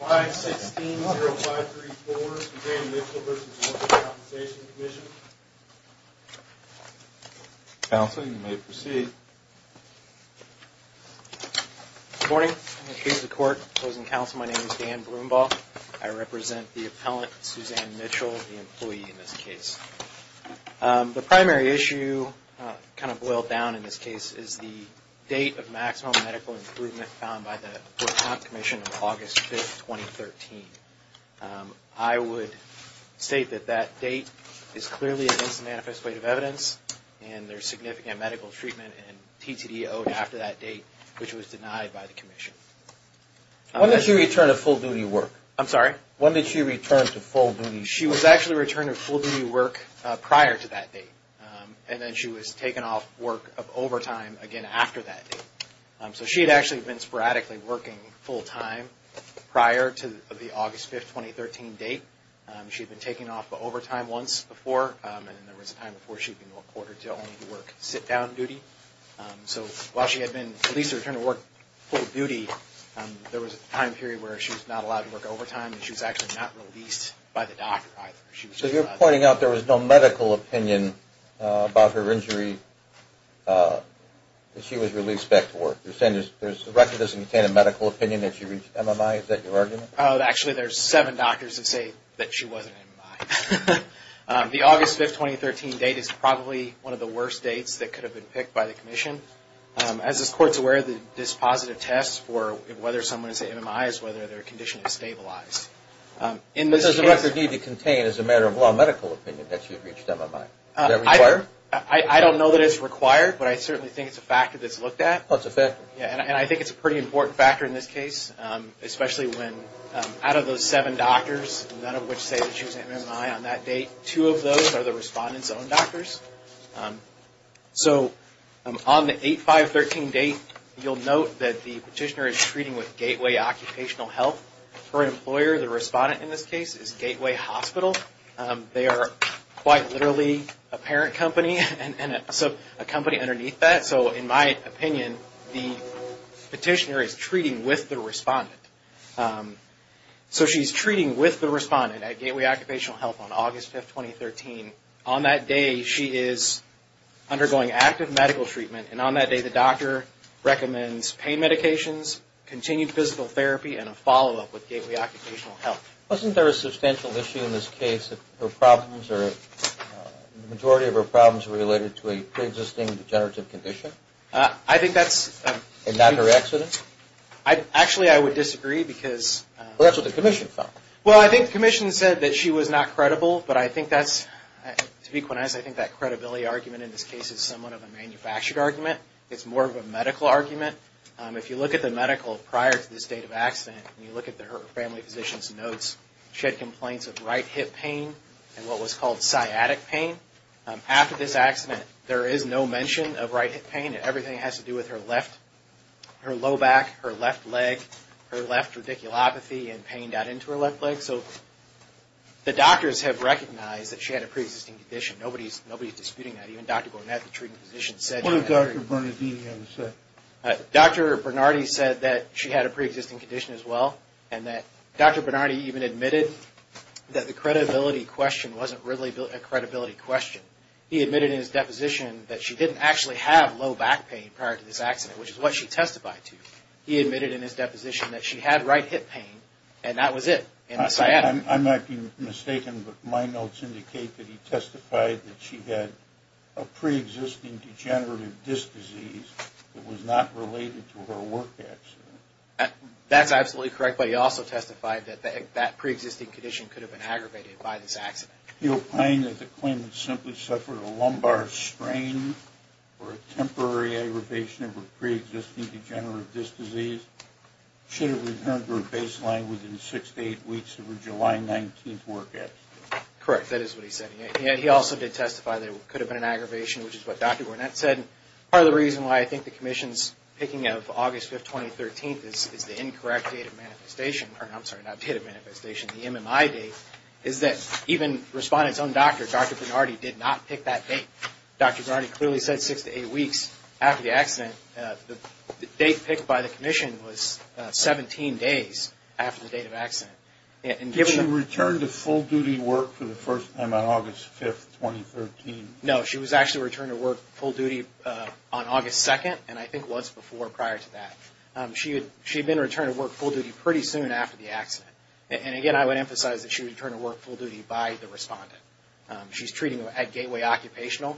516-0534, Suzanne Mitchell v. Morgan Compensation Commission. Counsel, you may proceed. Good morning, members of the court, opposing counsel, my name is Dan Broombaugh. I represent the appellant, Suzanne Mitchell, the employee in this case. The primary issue, kind of boiled down in this case, is the date of maximum medical improvement found by the Book Comp Commission of August 5th, 2013. I would state that that date is clearly against the manifest weight of evidence, and there's significant medical treatment and TTD owed after that date, which was denied by the commission. When did she return to full duty work? I'm sorry? When did she return to full duty work? She was actually returned to full duty work prior to that date, and then she was taken off work of overtime again after that date. So she had actually been sporadically working full time prior to the August 5th, 2013 date. She had been taken off of overtime once before, and there was a time before she had been reported to only work sit-down duty. So while she had been released and returned to work full duty, there was a time period where she was not allowed to work overtime, and she was actually not released by the doctor either. So you're pointing out there was no medical opinion about her injury that she was released back to work. You're saying the record doesn't contain a medical opinion that she reached MMI? Is that your argument? Actually, there's seven doctors that say that she wasn't MMI. The August 5th, 2013 date is probably one of the worst dates that could have been picked by the commission. As this Court's aware, this positive test for whether someone is at MMI is whether their condition is stabilized. But does the record need to contain as a matter of law medical opinion that she reached MMI? Is that required? I don't know that it's required, but I certainly think it's a factor that's looked at. Oh, it's a factor. Yeah, and I think it's a pretty important factor in this case, especially when out of those seven doctors, none of which say that she was MMI on that date, two of those are the respondent's own doctors. So on the August 5th, 2013 date, you'll note that the petitioner is treating with Gateway Occupational Health. Her employer, the respondent in this case, is Gateway Hospital. They are quite literally a parent company and a company underneath that. So in my opinion, the petitioner is treating with the respondent. So she's treating with the respondent at Gateway Occupational Health on August 5th, 2013. On that day, she is undergoing active medical treatment. And on that day, the doctor recommends pain medications, continued physical therapy, and a follow-up with Gateway Occupational Health. Wasn't there a substantial issue in this case that her problems or the majority of her problems were related to a pre-existing degenerative condition? I think that's... And not her accident? Actually, I would disagree because... Well, that's what the commission found. Well, I think the commission said that she was not credible, but I think that's... It's more of a medical argument. If you look at the medical prior to this date of accident, and you look at her family physician's notes, she had complaints of right hip pain and what was called sciatic pain. After this accident, there is no mention of right hip pain. Everything has to do with her left... Her low back, her left leg, her left radiculopathy and pain down into her left leg. So the doctors have recognized that she had a pre-existing condition. Nobody's disputing that. Even Dr. Burnett, the treating physician, said... What did Dr. Bernardini have to say? Dr. Bernardini said that she had a pre-existing condition as well, and that Dr. Bernardini even admitted that the credibility question wasn't really a credibility question. He admitted in his deposition that she didn't actually have low back pain prior to this accident, which is what she testified to. He admitted in his deposition that she had right hip pain, and that was it, and the sciatic... I might be mistaken, but my notes indicate that he testified that she had a pre-existing degenerative disc disease that was not related to her work accident. That's absolutely correct, but he also testified that that pre-existing condition could have been aggravated by this accident. He opined that the claimant simply suffered a lumbar strain or a temporary aggravation of her pre-existing degenerative disc disease. Should it return to her baseline within six to eight weeks of her July 19th work accident? Correct. That is what he said. He also did testify that it could have been an aggravation, which is what Dr. Burnett said. Part of the reason why I think the Commission's picking of August 5th, 2013, is the incorrect date of manifestation... I'm sorry, not date of manifestation, the MMI date, is that even Respondent's own doctor, Dr. Bernardini, did not pick that date. Dr. Bernardini clearly said six to eight weeks after the accident. The date picked by the Commission was 17 days after the date of accident. Did she return to full-duty work for the first time on August 5th, 2013? No, she was actually returned to work full-duty on August 2nd, and I think once before prior to that. She had been returned to work full-duty pretty soon after the accident. And again, I would emphasize that she was returned to work full-duty by the Respondent. She's treated at Gateway Occupational.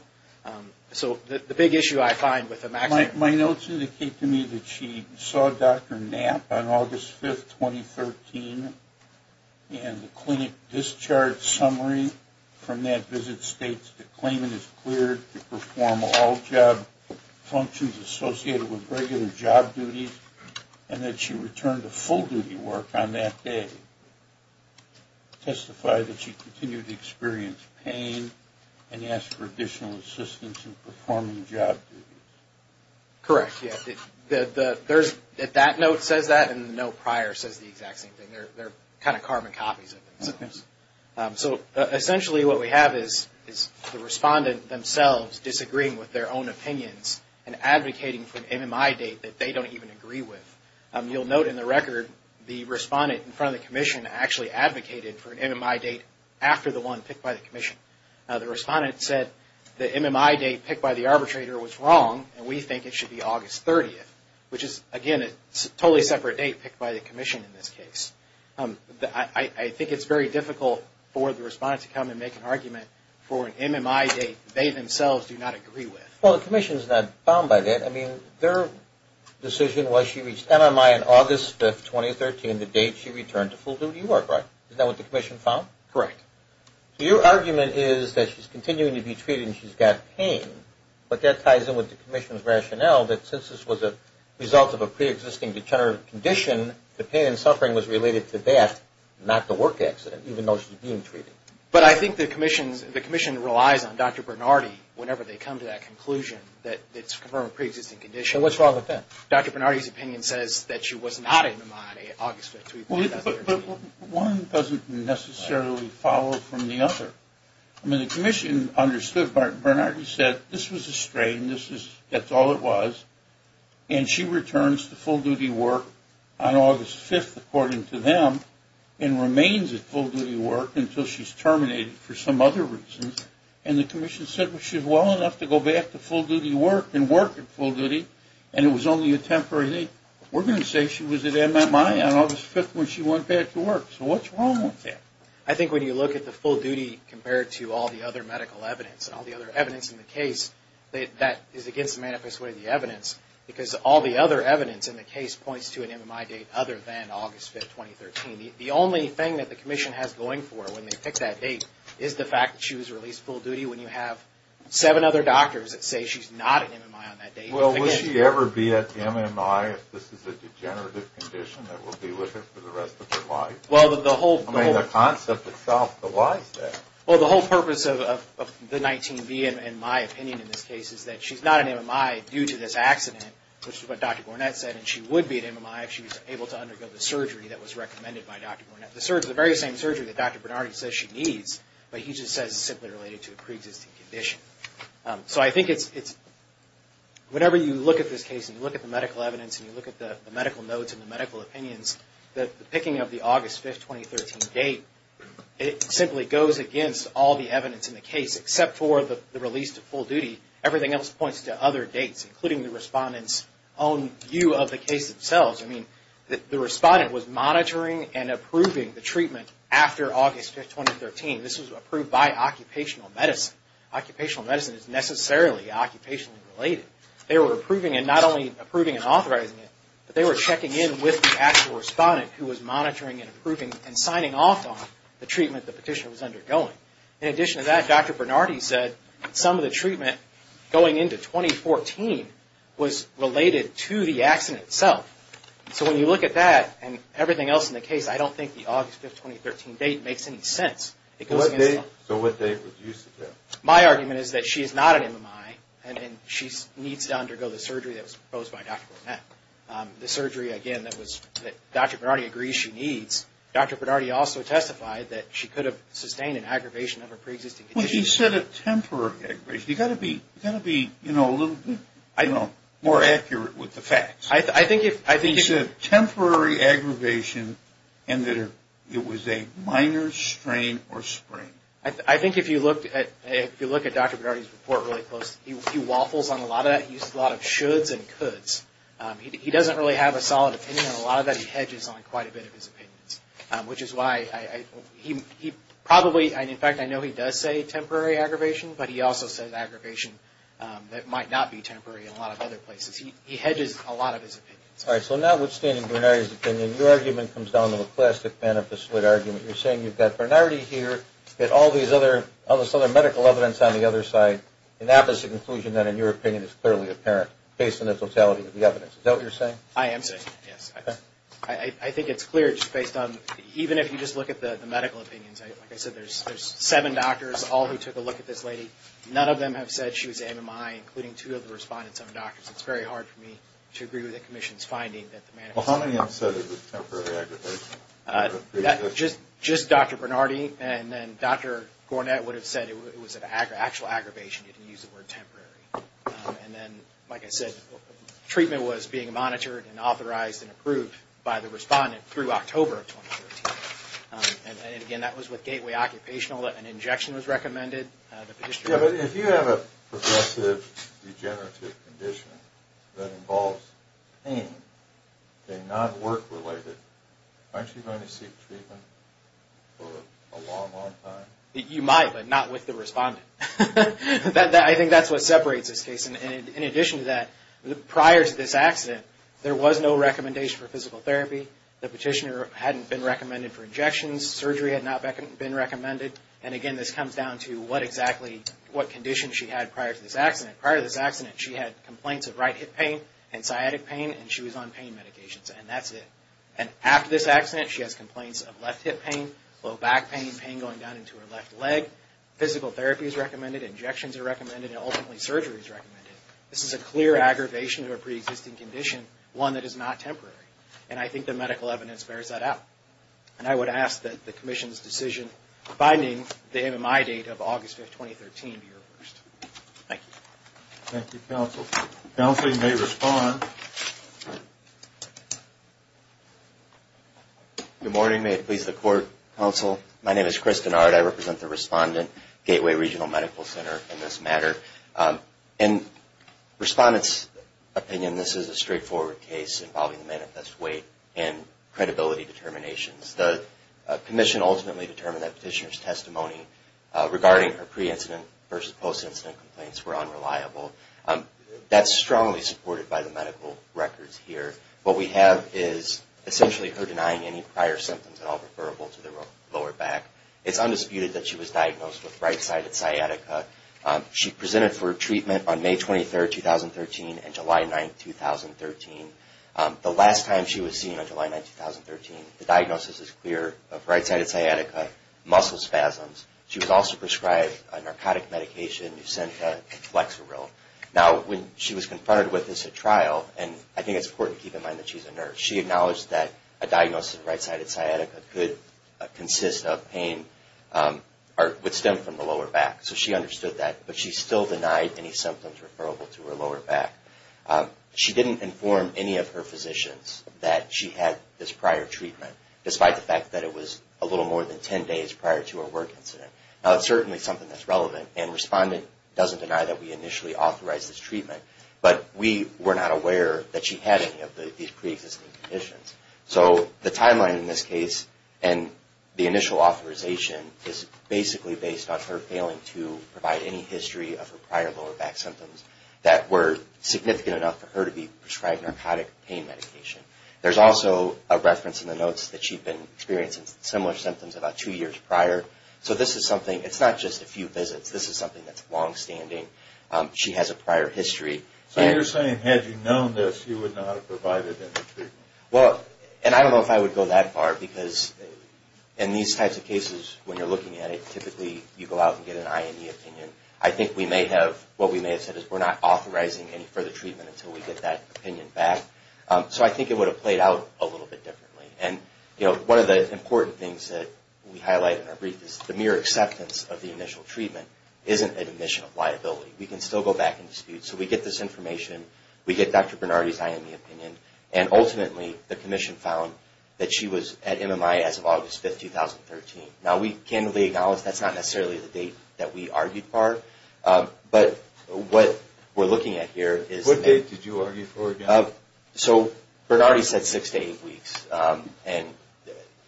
So the big issue I find with the maximum... My notes indicate to me that she saw Dr. Knapp on August 5th, 2013, and the clinic discharge summary from that visit states that claimant is cleared to perform all job functions associated with regular job duties, and that she returned to full-duty work on that day. Can you testify that she continued to experience pain and ask for additional assistance in performing job duties? Correct, yes. That note says that, and the note prior says the exact same thing. They're kind of carbon copies of themselves. So essentially what we have is the Respondent themselves disagreeing with their own opinions and advocating for an MMI date that they don't even agree with. You'll note in the record the Respondent in front of the Commission actually advocated for an MMI date after the one picked by the Commission. The Respondent said the MMI date picked by the arbitrator was wrong, and we think it should be August 30th, which is, again, a totally separate date picked by the Commission in this case. I think it's very difficult for the Respondent to come and make an argument for an MMI date they themselves do not agree with. Well, the Commission's not bound by that. I mean, their decision was she reached MMI on August 5th, 2013, the date she returned to full-duty work, right? Is that what the Commission found? Correct. So your argument is that she's continuing to be treated and she's got pain, but that ties in with the Commission's rationale that since this was a result of a preexisting degenerative condition, the pain and suffering was related to that, not the work accident, even though she's being treated. But I think the Commission relies on Dr. Bernardi whenever they come to that conclusion that it's from a preexisting condition. So what's wrong with that? Dr. Bernardi's opinion says that she was not in MMI on August 5th, 2013. But one doesn't necessarily follow from the other. I mean, the Commission understood what Bernardi said. This was a strain. That's all it was, and she returns to full-duty work on August 5th, according to them, and remains at full-duty work until she's terminated for some other reason. And the Commission said, well, she's well enough to go back to full-duty work and work at full-duty, and it was only a temporary thing. We're going to say she was at MMI on August 5th when she went back to work. So what's wrong with that? I think when you look at the full-duty compared to all the other medical evidence and all the other evidence in the case, that is against the manifest way of the evidence, because all the other evidence in the case points to an MMI date other than August 5th, 2013. The only thing that the Commission has going for her when they pick that date is the fact that she was released full-duty when you have seven other doctors that say she's not at MMI on that date. Well, will she ever be at MMI if this is a degenerative condition that will be with her for the rest of her life? I mean, the concept itself, but why is that? Well, the whole purpose of the 19B in my opinion in this case is that she's not at MMI due to this accident, which is what Dr. Gornett said, and she would be at MMI if she was able to undergo the surgery that was recommended by Dr. Gornett. The very same surgery that Dr. Bernardi says she needs, but he just says it's simply related to a preexisting condition. So I think it's – whenever you look at this case and you look at the medical evidence and you look at the medical notes and the medical opinions, the picking of the August 5, 2013 date, it simply goes against all the evidence in the case, except for the release to full duty. Everything else points to other dates, including the respondent's own view of the case itself. I mean, the respondent was monitoring and approving the treatment after August 5, 2013. This was approved by occupational medicine. Occupational medicine is necessarily occupationally related. They were approving and not only approving and authorizing it, but they were checking in with the actual respondent who was monitoring and approving and signing off on the treatment the petitioner was undergoing. In addition to that, Dr. Bernardi said some of the treatment going into 2014 was related to the accident itself. So when you look at that and everything else in the case, I don't think the August 5, 2013 date makes any sense. So what date was used? My argument is that she is not an MMI and she needs to undergo the surgery that was proposed by Dr. Burnett. The surgery, again, that Dr. Bernardi agrees she needs. Dr. Bernardi also testified that she could have sustained an aggravation of her preexisting condition. Well, he said a temporary aggravation. You've got to be a little bit more accurate with the facts. He said temporary aggravation and that it was a minor strain or sprain. I think if you look at Dr. Bernardi's report really closely, he waffles on a lot of that. He uses a lot of shoulds and coulds. He doesn't really have a solid opinion on a lot of that. He hedges on quite a bit of his opinions, which is why he probably, and in fact I know he does say temporary aggravation, but he also says aggravation that might not be temporary in a lot of other places. He hedges a lot of his opinions. All right, so notwithstanding Bernardi's opinion, your argument comes down to a plastic manifest would argument. You're saying you've got Bernardi here, you've got all this other medical evidence on the other side, and that was the conclusion that, in your opinion, is clearly apparent, based on the totality of the evidence. Is that what you're saying? I am saying, yes. I think it's clear just based on, even if you just look at the medical opinions, like I said, there's seven doctors, all who took a look at this lady. None of them have said she was MMI, including two of the respondents, seven doctors. It's very hard for me to agree with the Commission's finding that the manifest was temporary. Well, how many have said it was temporary aggravation? Just Dr. Bernardi and then Dr. Gornett would have said it was an actual aggravation. They didn't use the word temporary. And then, like I said, treatment was being monitored and authorized and approved by the respondent through October of 2013. And, again, that was with Gateway Occupational. An injection was recommended. Yeah, but if you have a progressive degenerative condition that involves pain and not work-related, aren't you going to seek treatment for a long, long time? You might, but not with the respondent. I think that's what separates this case. In addition to that, prior to this accident, there was no recommendation for physical therapy. The petitioner hadn't been recommended for injections. Surgery had not been recommended. And, again, this comes down to what exactly, what condition she had prior to this accident. Prior to this accident, she had complaints of right hip pain and sciatic pain, and she was on pain medications, and that's it. And after this accident, she has complaints of left hip pain, low back pain, pain going down into her left leg. Physical therapy is recommended. Injections are recommended. And, ultimately, surgery is recommended. This is a clear aggravation of a preexisting condition, one that is not temporary. And I think the medical evidence bears that out. And I would ask that the Commission's decision binding the MMI date of August 5, 2013, be reversed. Thank you. Thank you, Counsel. Counsel, you may respond. Good morning. May it please the Court, Counsel. My name is Chris Dennard. I represent the respondent, Gateway Regional Medical Center, in this matter. In respondent's opinion, this is a straightforward case involving the manifest weight and credibility determinations. The Commission ultimately determined that petitioner's testimony regarding her pre-incident versus post-incident complaints were unreliable. That's strongly supported by the medical records here. What we have is essentially her denying any prior symptoms at all, referable to the lower back. It's undisputed that she was diagnosed with right-sided sciatica. She presented for treatment on May 23, 2013, and July 9, 2013. The last time she was seen on July 9, 2013, the diagnosis is clear of right-sided sciatica, muscle spasms. She was also prescribed a narcotic medication, Nucenta, and Flexeril. Now, when she was confronted with this at trial, and I think it's important to keep in mind that she's a nurse, she acknowledged that a diagnosis of right-sided sciatica could consist of pain or would stem from the lower back. So she understood that, but she still denied any symptoms referable to her lower back. She didn't inform any of her physicians that she had this prior treatment, despite the fact that it was a little more than 10 days prior to her work incident. Now, it's certainly something that's relevant, and Respondent doesn't deny that we initially authorized this treatment, but we were not aware that she had any of these pre-existing conditions. So the timeline in this case and the initial authorization is basically based on her failing to provide any history of her prior lower back symptoms that were significant enough for her to be prescribed narcotic pain medication. There's also a reference in the notes that she'd been experiencing similar symptoms about two years prior. So this is something, it's not just a few visits, this is something that's longstanding. She has a prior history. So you're saying had you known this, you would not have provided any treatment? Well, and I don't know if I would go that far, because in these types of cases, when you're looking at it, typically you go out and get an IME opinion. I think we may have, what we may have said is we're not authorizing any further treatment until we get that opinion back. So I think it would have played out a little bit differently. And, you know, one of the important things that we highlight in our brief is the mere acceptance of the initial treatment isn't an admission of liability. We can still go back and dispute. So we get this information, we get Dr. Bernardi's IME opinion, and ultimately the commission found that she was at MMI as of August 5, 2013. Now, we candidly acknowledge that's not necessarily the date that we argued for. But what we're looking at here is... What date did you argue for again? So Bernardi said six to eight weeks. And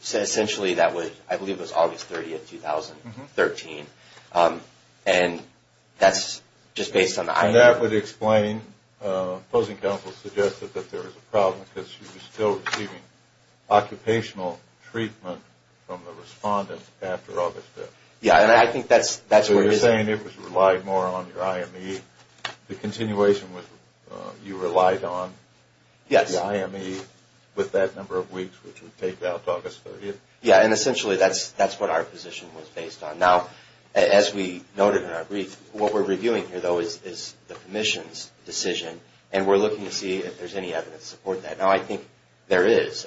essentially that was, I believe it was August 30, 2013. And that's just based on the IME. And that would explain, opposing counsel suggested that there was a problem, because she was still receiving occupational treatment from the respondent after August 5. Yeah, and I think that's where it is. So you're saying it was relied more on your IME. The continuation was you relied on the IME with that number of weeks, which would take out to August 30th. Yeah, and essentially that's what our position was based on. Now, as we noted in our brief, what we're reviewing here, though, is the commission's decision. And we're looking to see if there's any evidence to support that. Now, I think there is.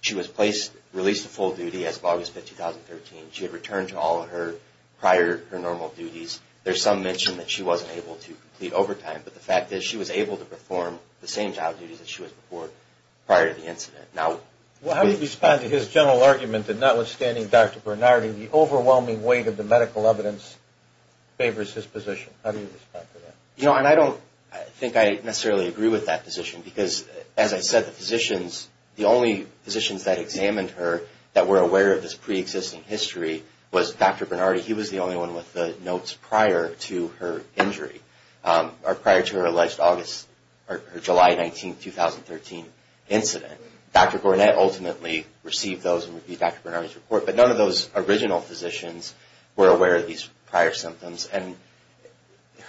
She was placed, released to full duty as of August 5, 2013. She had returned to all of her prior, her normal duties. There's some mention that she wasn't able to complete overtime. But the fact is she was able to perform the same job duties that she was before prior to the incident. Now... Well, how do you respond to his general argument that notwithstanding Dr. Bernardi, the overwhelming weight of the medical evidence favors his position? How do you respond to that? You know, and I don't think I necessarily agree with that position. Because, as I said, the physicians, the only physicians that examined her that were aware of this preexisting history was Dr. Bernardi. He was the only one with the notes prior to her injury or prior to her alleged August or July 19, 2013 incident. Dr. Gornett ultimately received those and reviewed Dr. Bernardi's report. But none of those original physicians were aware of these prior symptoms. And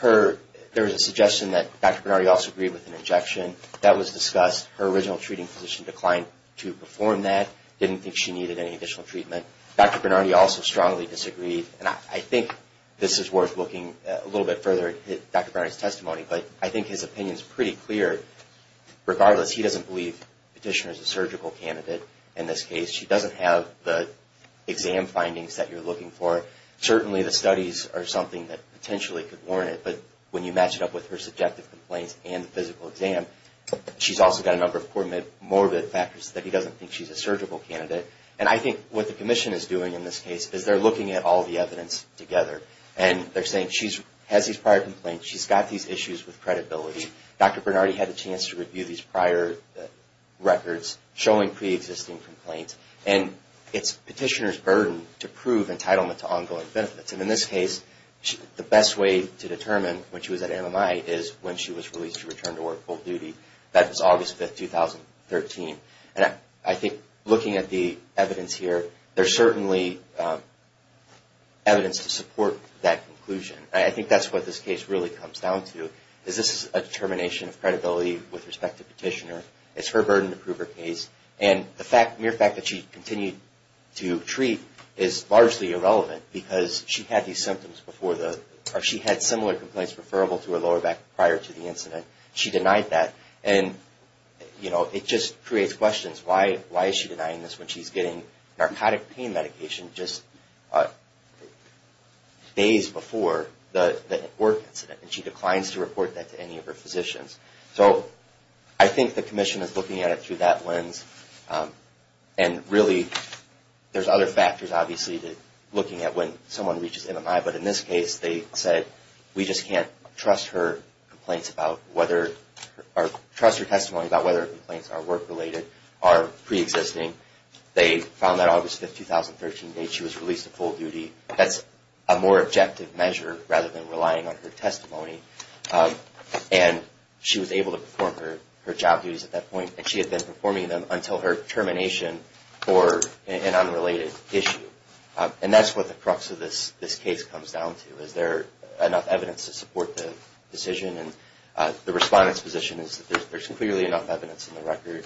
there was a suggestion that Dr. Bernardi also agreed with an injection. That was discussed. Her original treating physician declined to perform that, didn't think she needed any additional treatment. Dr. Bernardi also strongly disagreed. And I think this is worth looking a little bit further at Dr. Bernardi's testimony. But I think his opinion is pretty clear. Regardless, he doesn't believe Petitioner is a surgical candidate in this case. She doesn't have the exam findings that you're looking for. Certainly, the studies are something that potentially could warrant it. But when you match it up with her subjective complaints and the physical exam, she's also got a number of morbid factors that he doesn't think she's a surgical candidate. And I think what the Commission is doing in this case is they're looking at all the evidence together. And they're saying she has these prior complaints. She's got these issues with credibility. Dr. Bernardi had a chance to review these prior records showing preexisting complaints. And it's Petitioner's burden to prove entitlement to ongoing benefits. And in this case, the best way to determine when she was at MMI is when she was released to return to work full duty. That was August 5, 2013. And I think looking at the evidence here, there's certainly evidence to support that conclusion. I think that's what this case really comes down to, is this is a determination of credibility with respect to Petitioner. It's her burden to prove her case. And the mere fact that she continued to treat is largely irrelevant because she had these symptoms before the – or she had similar complaints preferable to her lower back prior to the incident. She denied that. And, you know, it just creates questions. Why is she denying this when she's getting narcotic pain medication just days before the work incident? And she declines to report that to any of her physicians. So I think the commission is looking at it through that lens. And really, there's other factors, obviously, to looking at when someone reaches MMI. But in this case, they said, we just can't trust her complaints about whether – or trust her testimony about whether her complaints are work-related, are preexisting. They found that August 5, 2013 date she was released to full duty. That's a more objective measure rather than relying on her testimony. And she was able to perform her job duties at that point. And she had been performing them until her termination for an unrelated issue. And that's what the crux of this case comes down to. Is there enough evidence to support the decision? And the Respondent's position is that there's clearly enough evidence in the record.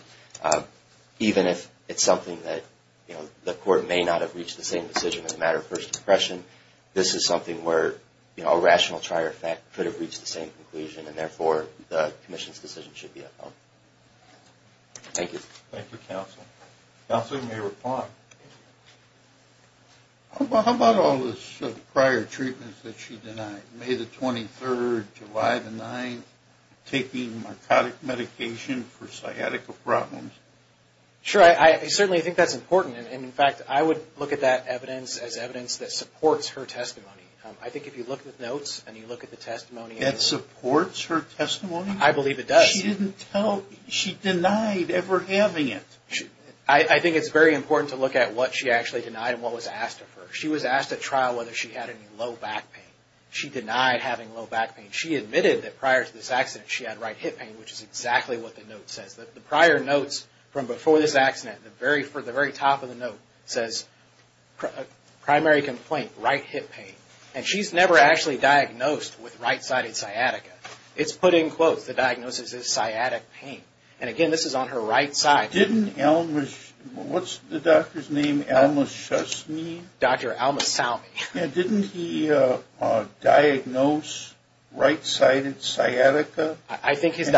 Even if it's something that, you know, the court may not have reached the same decision as a matter of first impression, this is something where, you know, a rational trial effect could have reached the same conclusion. And therefore, the commission's decision should be upheld. Thank you. Thank you, Counsel. Counsel, you may reply. How about all those prior treatments that she denied? May the 23rd, July the 9th, taking narcotic medication for sciatica problems? Sure. I certainly think that's important. And, in fact, I would look at that evidence as evidence that supports her testimony. I think if you look at the notes and you look at the testimony. That supports her testimony? I believe it does. She didn't tell, she denied ever having it. I think it's very important to look at what she actually denied and what was asked of her. She was asked at trial whether she had any low back pain. She denied having low back pain. She admitted that prior to this accident she had right hip pain, which is exactly what the note says. The prior notes from before this accident, for the very top of the note, says, primary complaint, right hip pain. And she's never actually diagnosed with right-sided sciatica. It's put in quotes, the diagnosis is sciatic pain. And, again, this is on her right side. Didn't Elmish, what's the doctor's name, Elmishusney? Dr. Elmishusney. Yeah, didn't he diagnose right-sided sciatica? I think his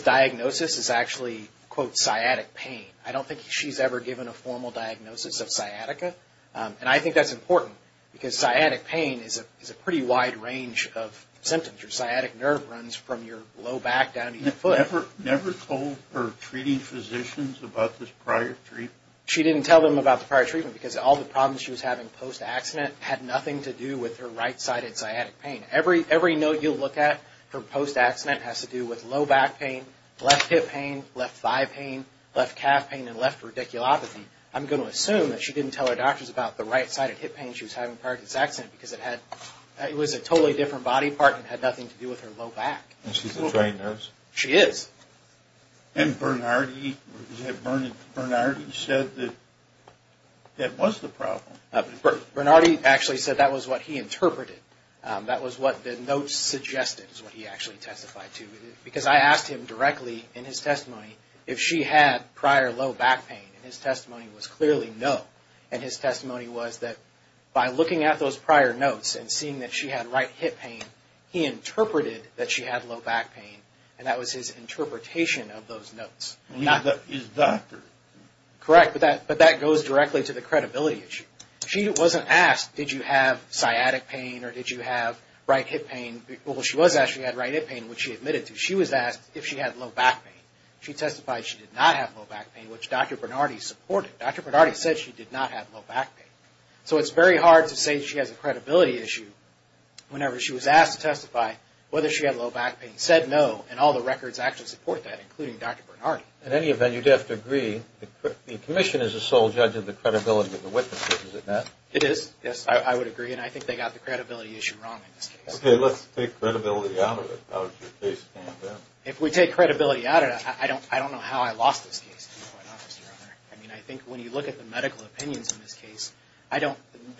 diagnosis is actually, quote, sciatic pain. I don't think she's ever given a formal diagnosis of sciatica. And I think that's important because sciatic pain is a pretty wide range of symptoms. Your sciatic nerve runs from your low back down to your foot. Never told her treating physicians about this prior treatment? She didn't tell them about the prior treatment because all the problems she was having post-accident had nothing to do with her right-sided sciatic pain. Every note you look at for post-accident has to do with low back pain, left hip pain, left thigh pain, left calf pain, and left radiculopathy. I'm going to assume that she didn't tell her doctors about the right-sided hip pain she was having prior to this accident because it was a totally different body part and had nothing to do with her low back. And she's a trained nurse? She is. And Bernardi said that that was the problem. Bernardi actually said that was what he interpreted. That was what the notes suggested is what he actually testified to. Because I asked him directly in his testimony if she had prior low back pain, and his testimony was clearly no. And his testimony was that by looking at those prior notes and seeing that she had right hip pain, he interpreted that she had low back pain, and that was his interpretation of those notes. Not his doctor. Correct, but that goes directly to the credibility issue. She wasn't asked, did you have sciatic pain or did you have right hip pain? Well, she was asked if she had right hip pain, which she admitted to. She was asked if she had low back pain. She testified she did not have low back pain, which Dr. Bernardi supported. Dr. Bernardi said she did not have low back pain. So it's very hard to say she has a credibility issue whenever she was asked to testify whether she had low back pain. He said no, and all the records actually support that, including Dr. Bernardi. In any event, you'd have to agree the commission is the sole judge of the credibility of the witnesses, is it not? It is. Yes, I would agree, and I think they got the credibility issue wrong in this case. Okay, let's take credibility out of it. How does your case stand there? If we take credibility out of it, I don't know how I lost this case, to be quite honest, Your Honor. I mean, I think when you look at the medical opinions in this case,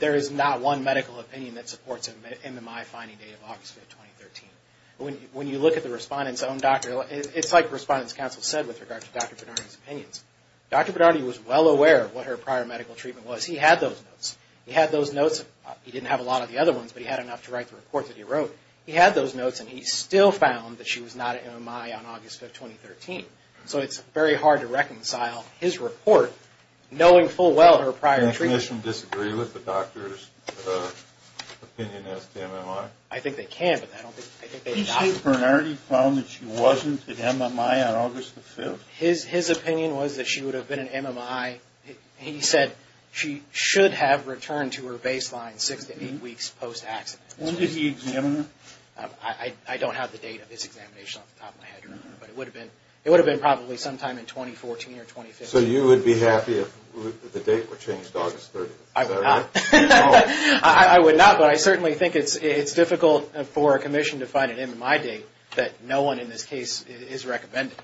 there is not one medical opinion that supports an MMI finding date of August 5, 2013. When you look at the Respondent's own doctor, it's like Respondent's counsel said with regard to Dr. Bernardi's opinions. Dr. Bernardi was well aware of what her prior medical treatment was. He had those notes. He had those notes. He didn't have a lot of the other ones, but he had enough to write the report that he wrote. He had those notes, and he still found that she was not at MMI on August 5, 2013. So it's very hard to reconcile his report, knowing full well her prior treatment. Can the commission disagree with the doctor's opinion as to MMI? I think they can, but I don't think they've gotten it. Did Dr. Bernardi found that she wasn't at MMI on August 5? His opinion was that she would have been at MMI. He said she should have returned to her baseline six to eight weeks post-accident. When did he examine her? I don't have the date of his examination off the top of my head, Your Honor, but it would have been probably sometime in 2014 or 2015. So you would be happy if the date were changed to August 30, is that right? I would not. I would not, but I certainly think it's difficult for a commission to find an MMI date that no one in this case is recommending,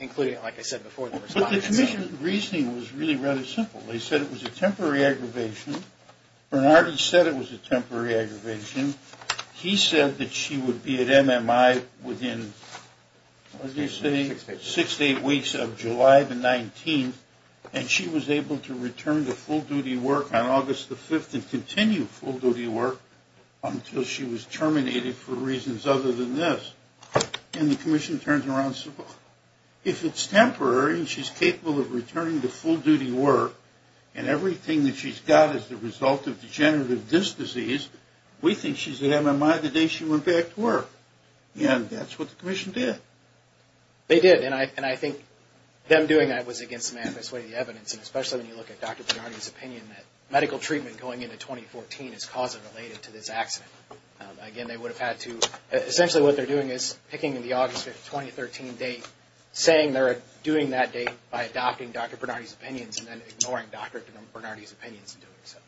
including, like I said before, the respondents. But the commission's reasoning was really rather simple. They said it was a temporary aggravation. Bernardi said it was a temporary aggravation. He said that she would be at MMI within, what did he say, six to eight weeks of July the 19th, and she was able to return to full-duty work on August the 5th and continue full-duty work until she was terminated for reasons other than this. And the commission turned around and said, well, if it's temporary and she's capable of returning to full-duty work and everything that she's got is the result of degenerative disc disease, we think she's at MMI the day she went back to work. And that's what the commission did. They did, and I think them doing that was against the manifest way of the evidence, and especially when you look at Dr. Bernardi's opinion that medical treatment going into 2014 is causatively related to this accident. Again, they would have had to, essentially what they're doing is picking the August 2013 date, saying they're doing that date by adopting Dr. Bernardi's opinions and then ignoring Dr. Bernardi's opinions in doing so.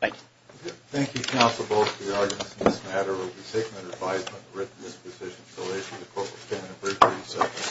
Thank you. Thank you, counsel. Both of the arguments in this matter will be taken under advisement and written in this position. So I issue the court with 10 and a brief recess.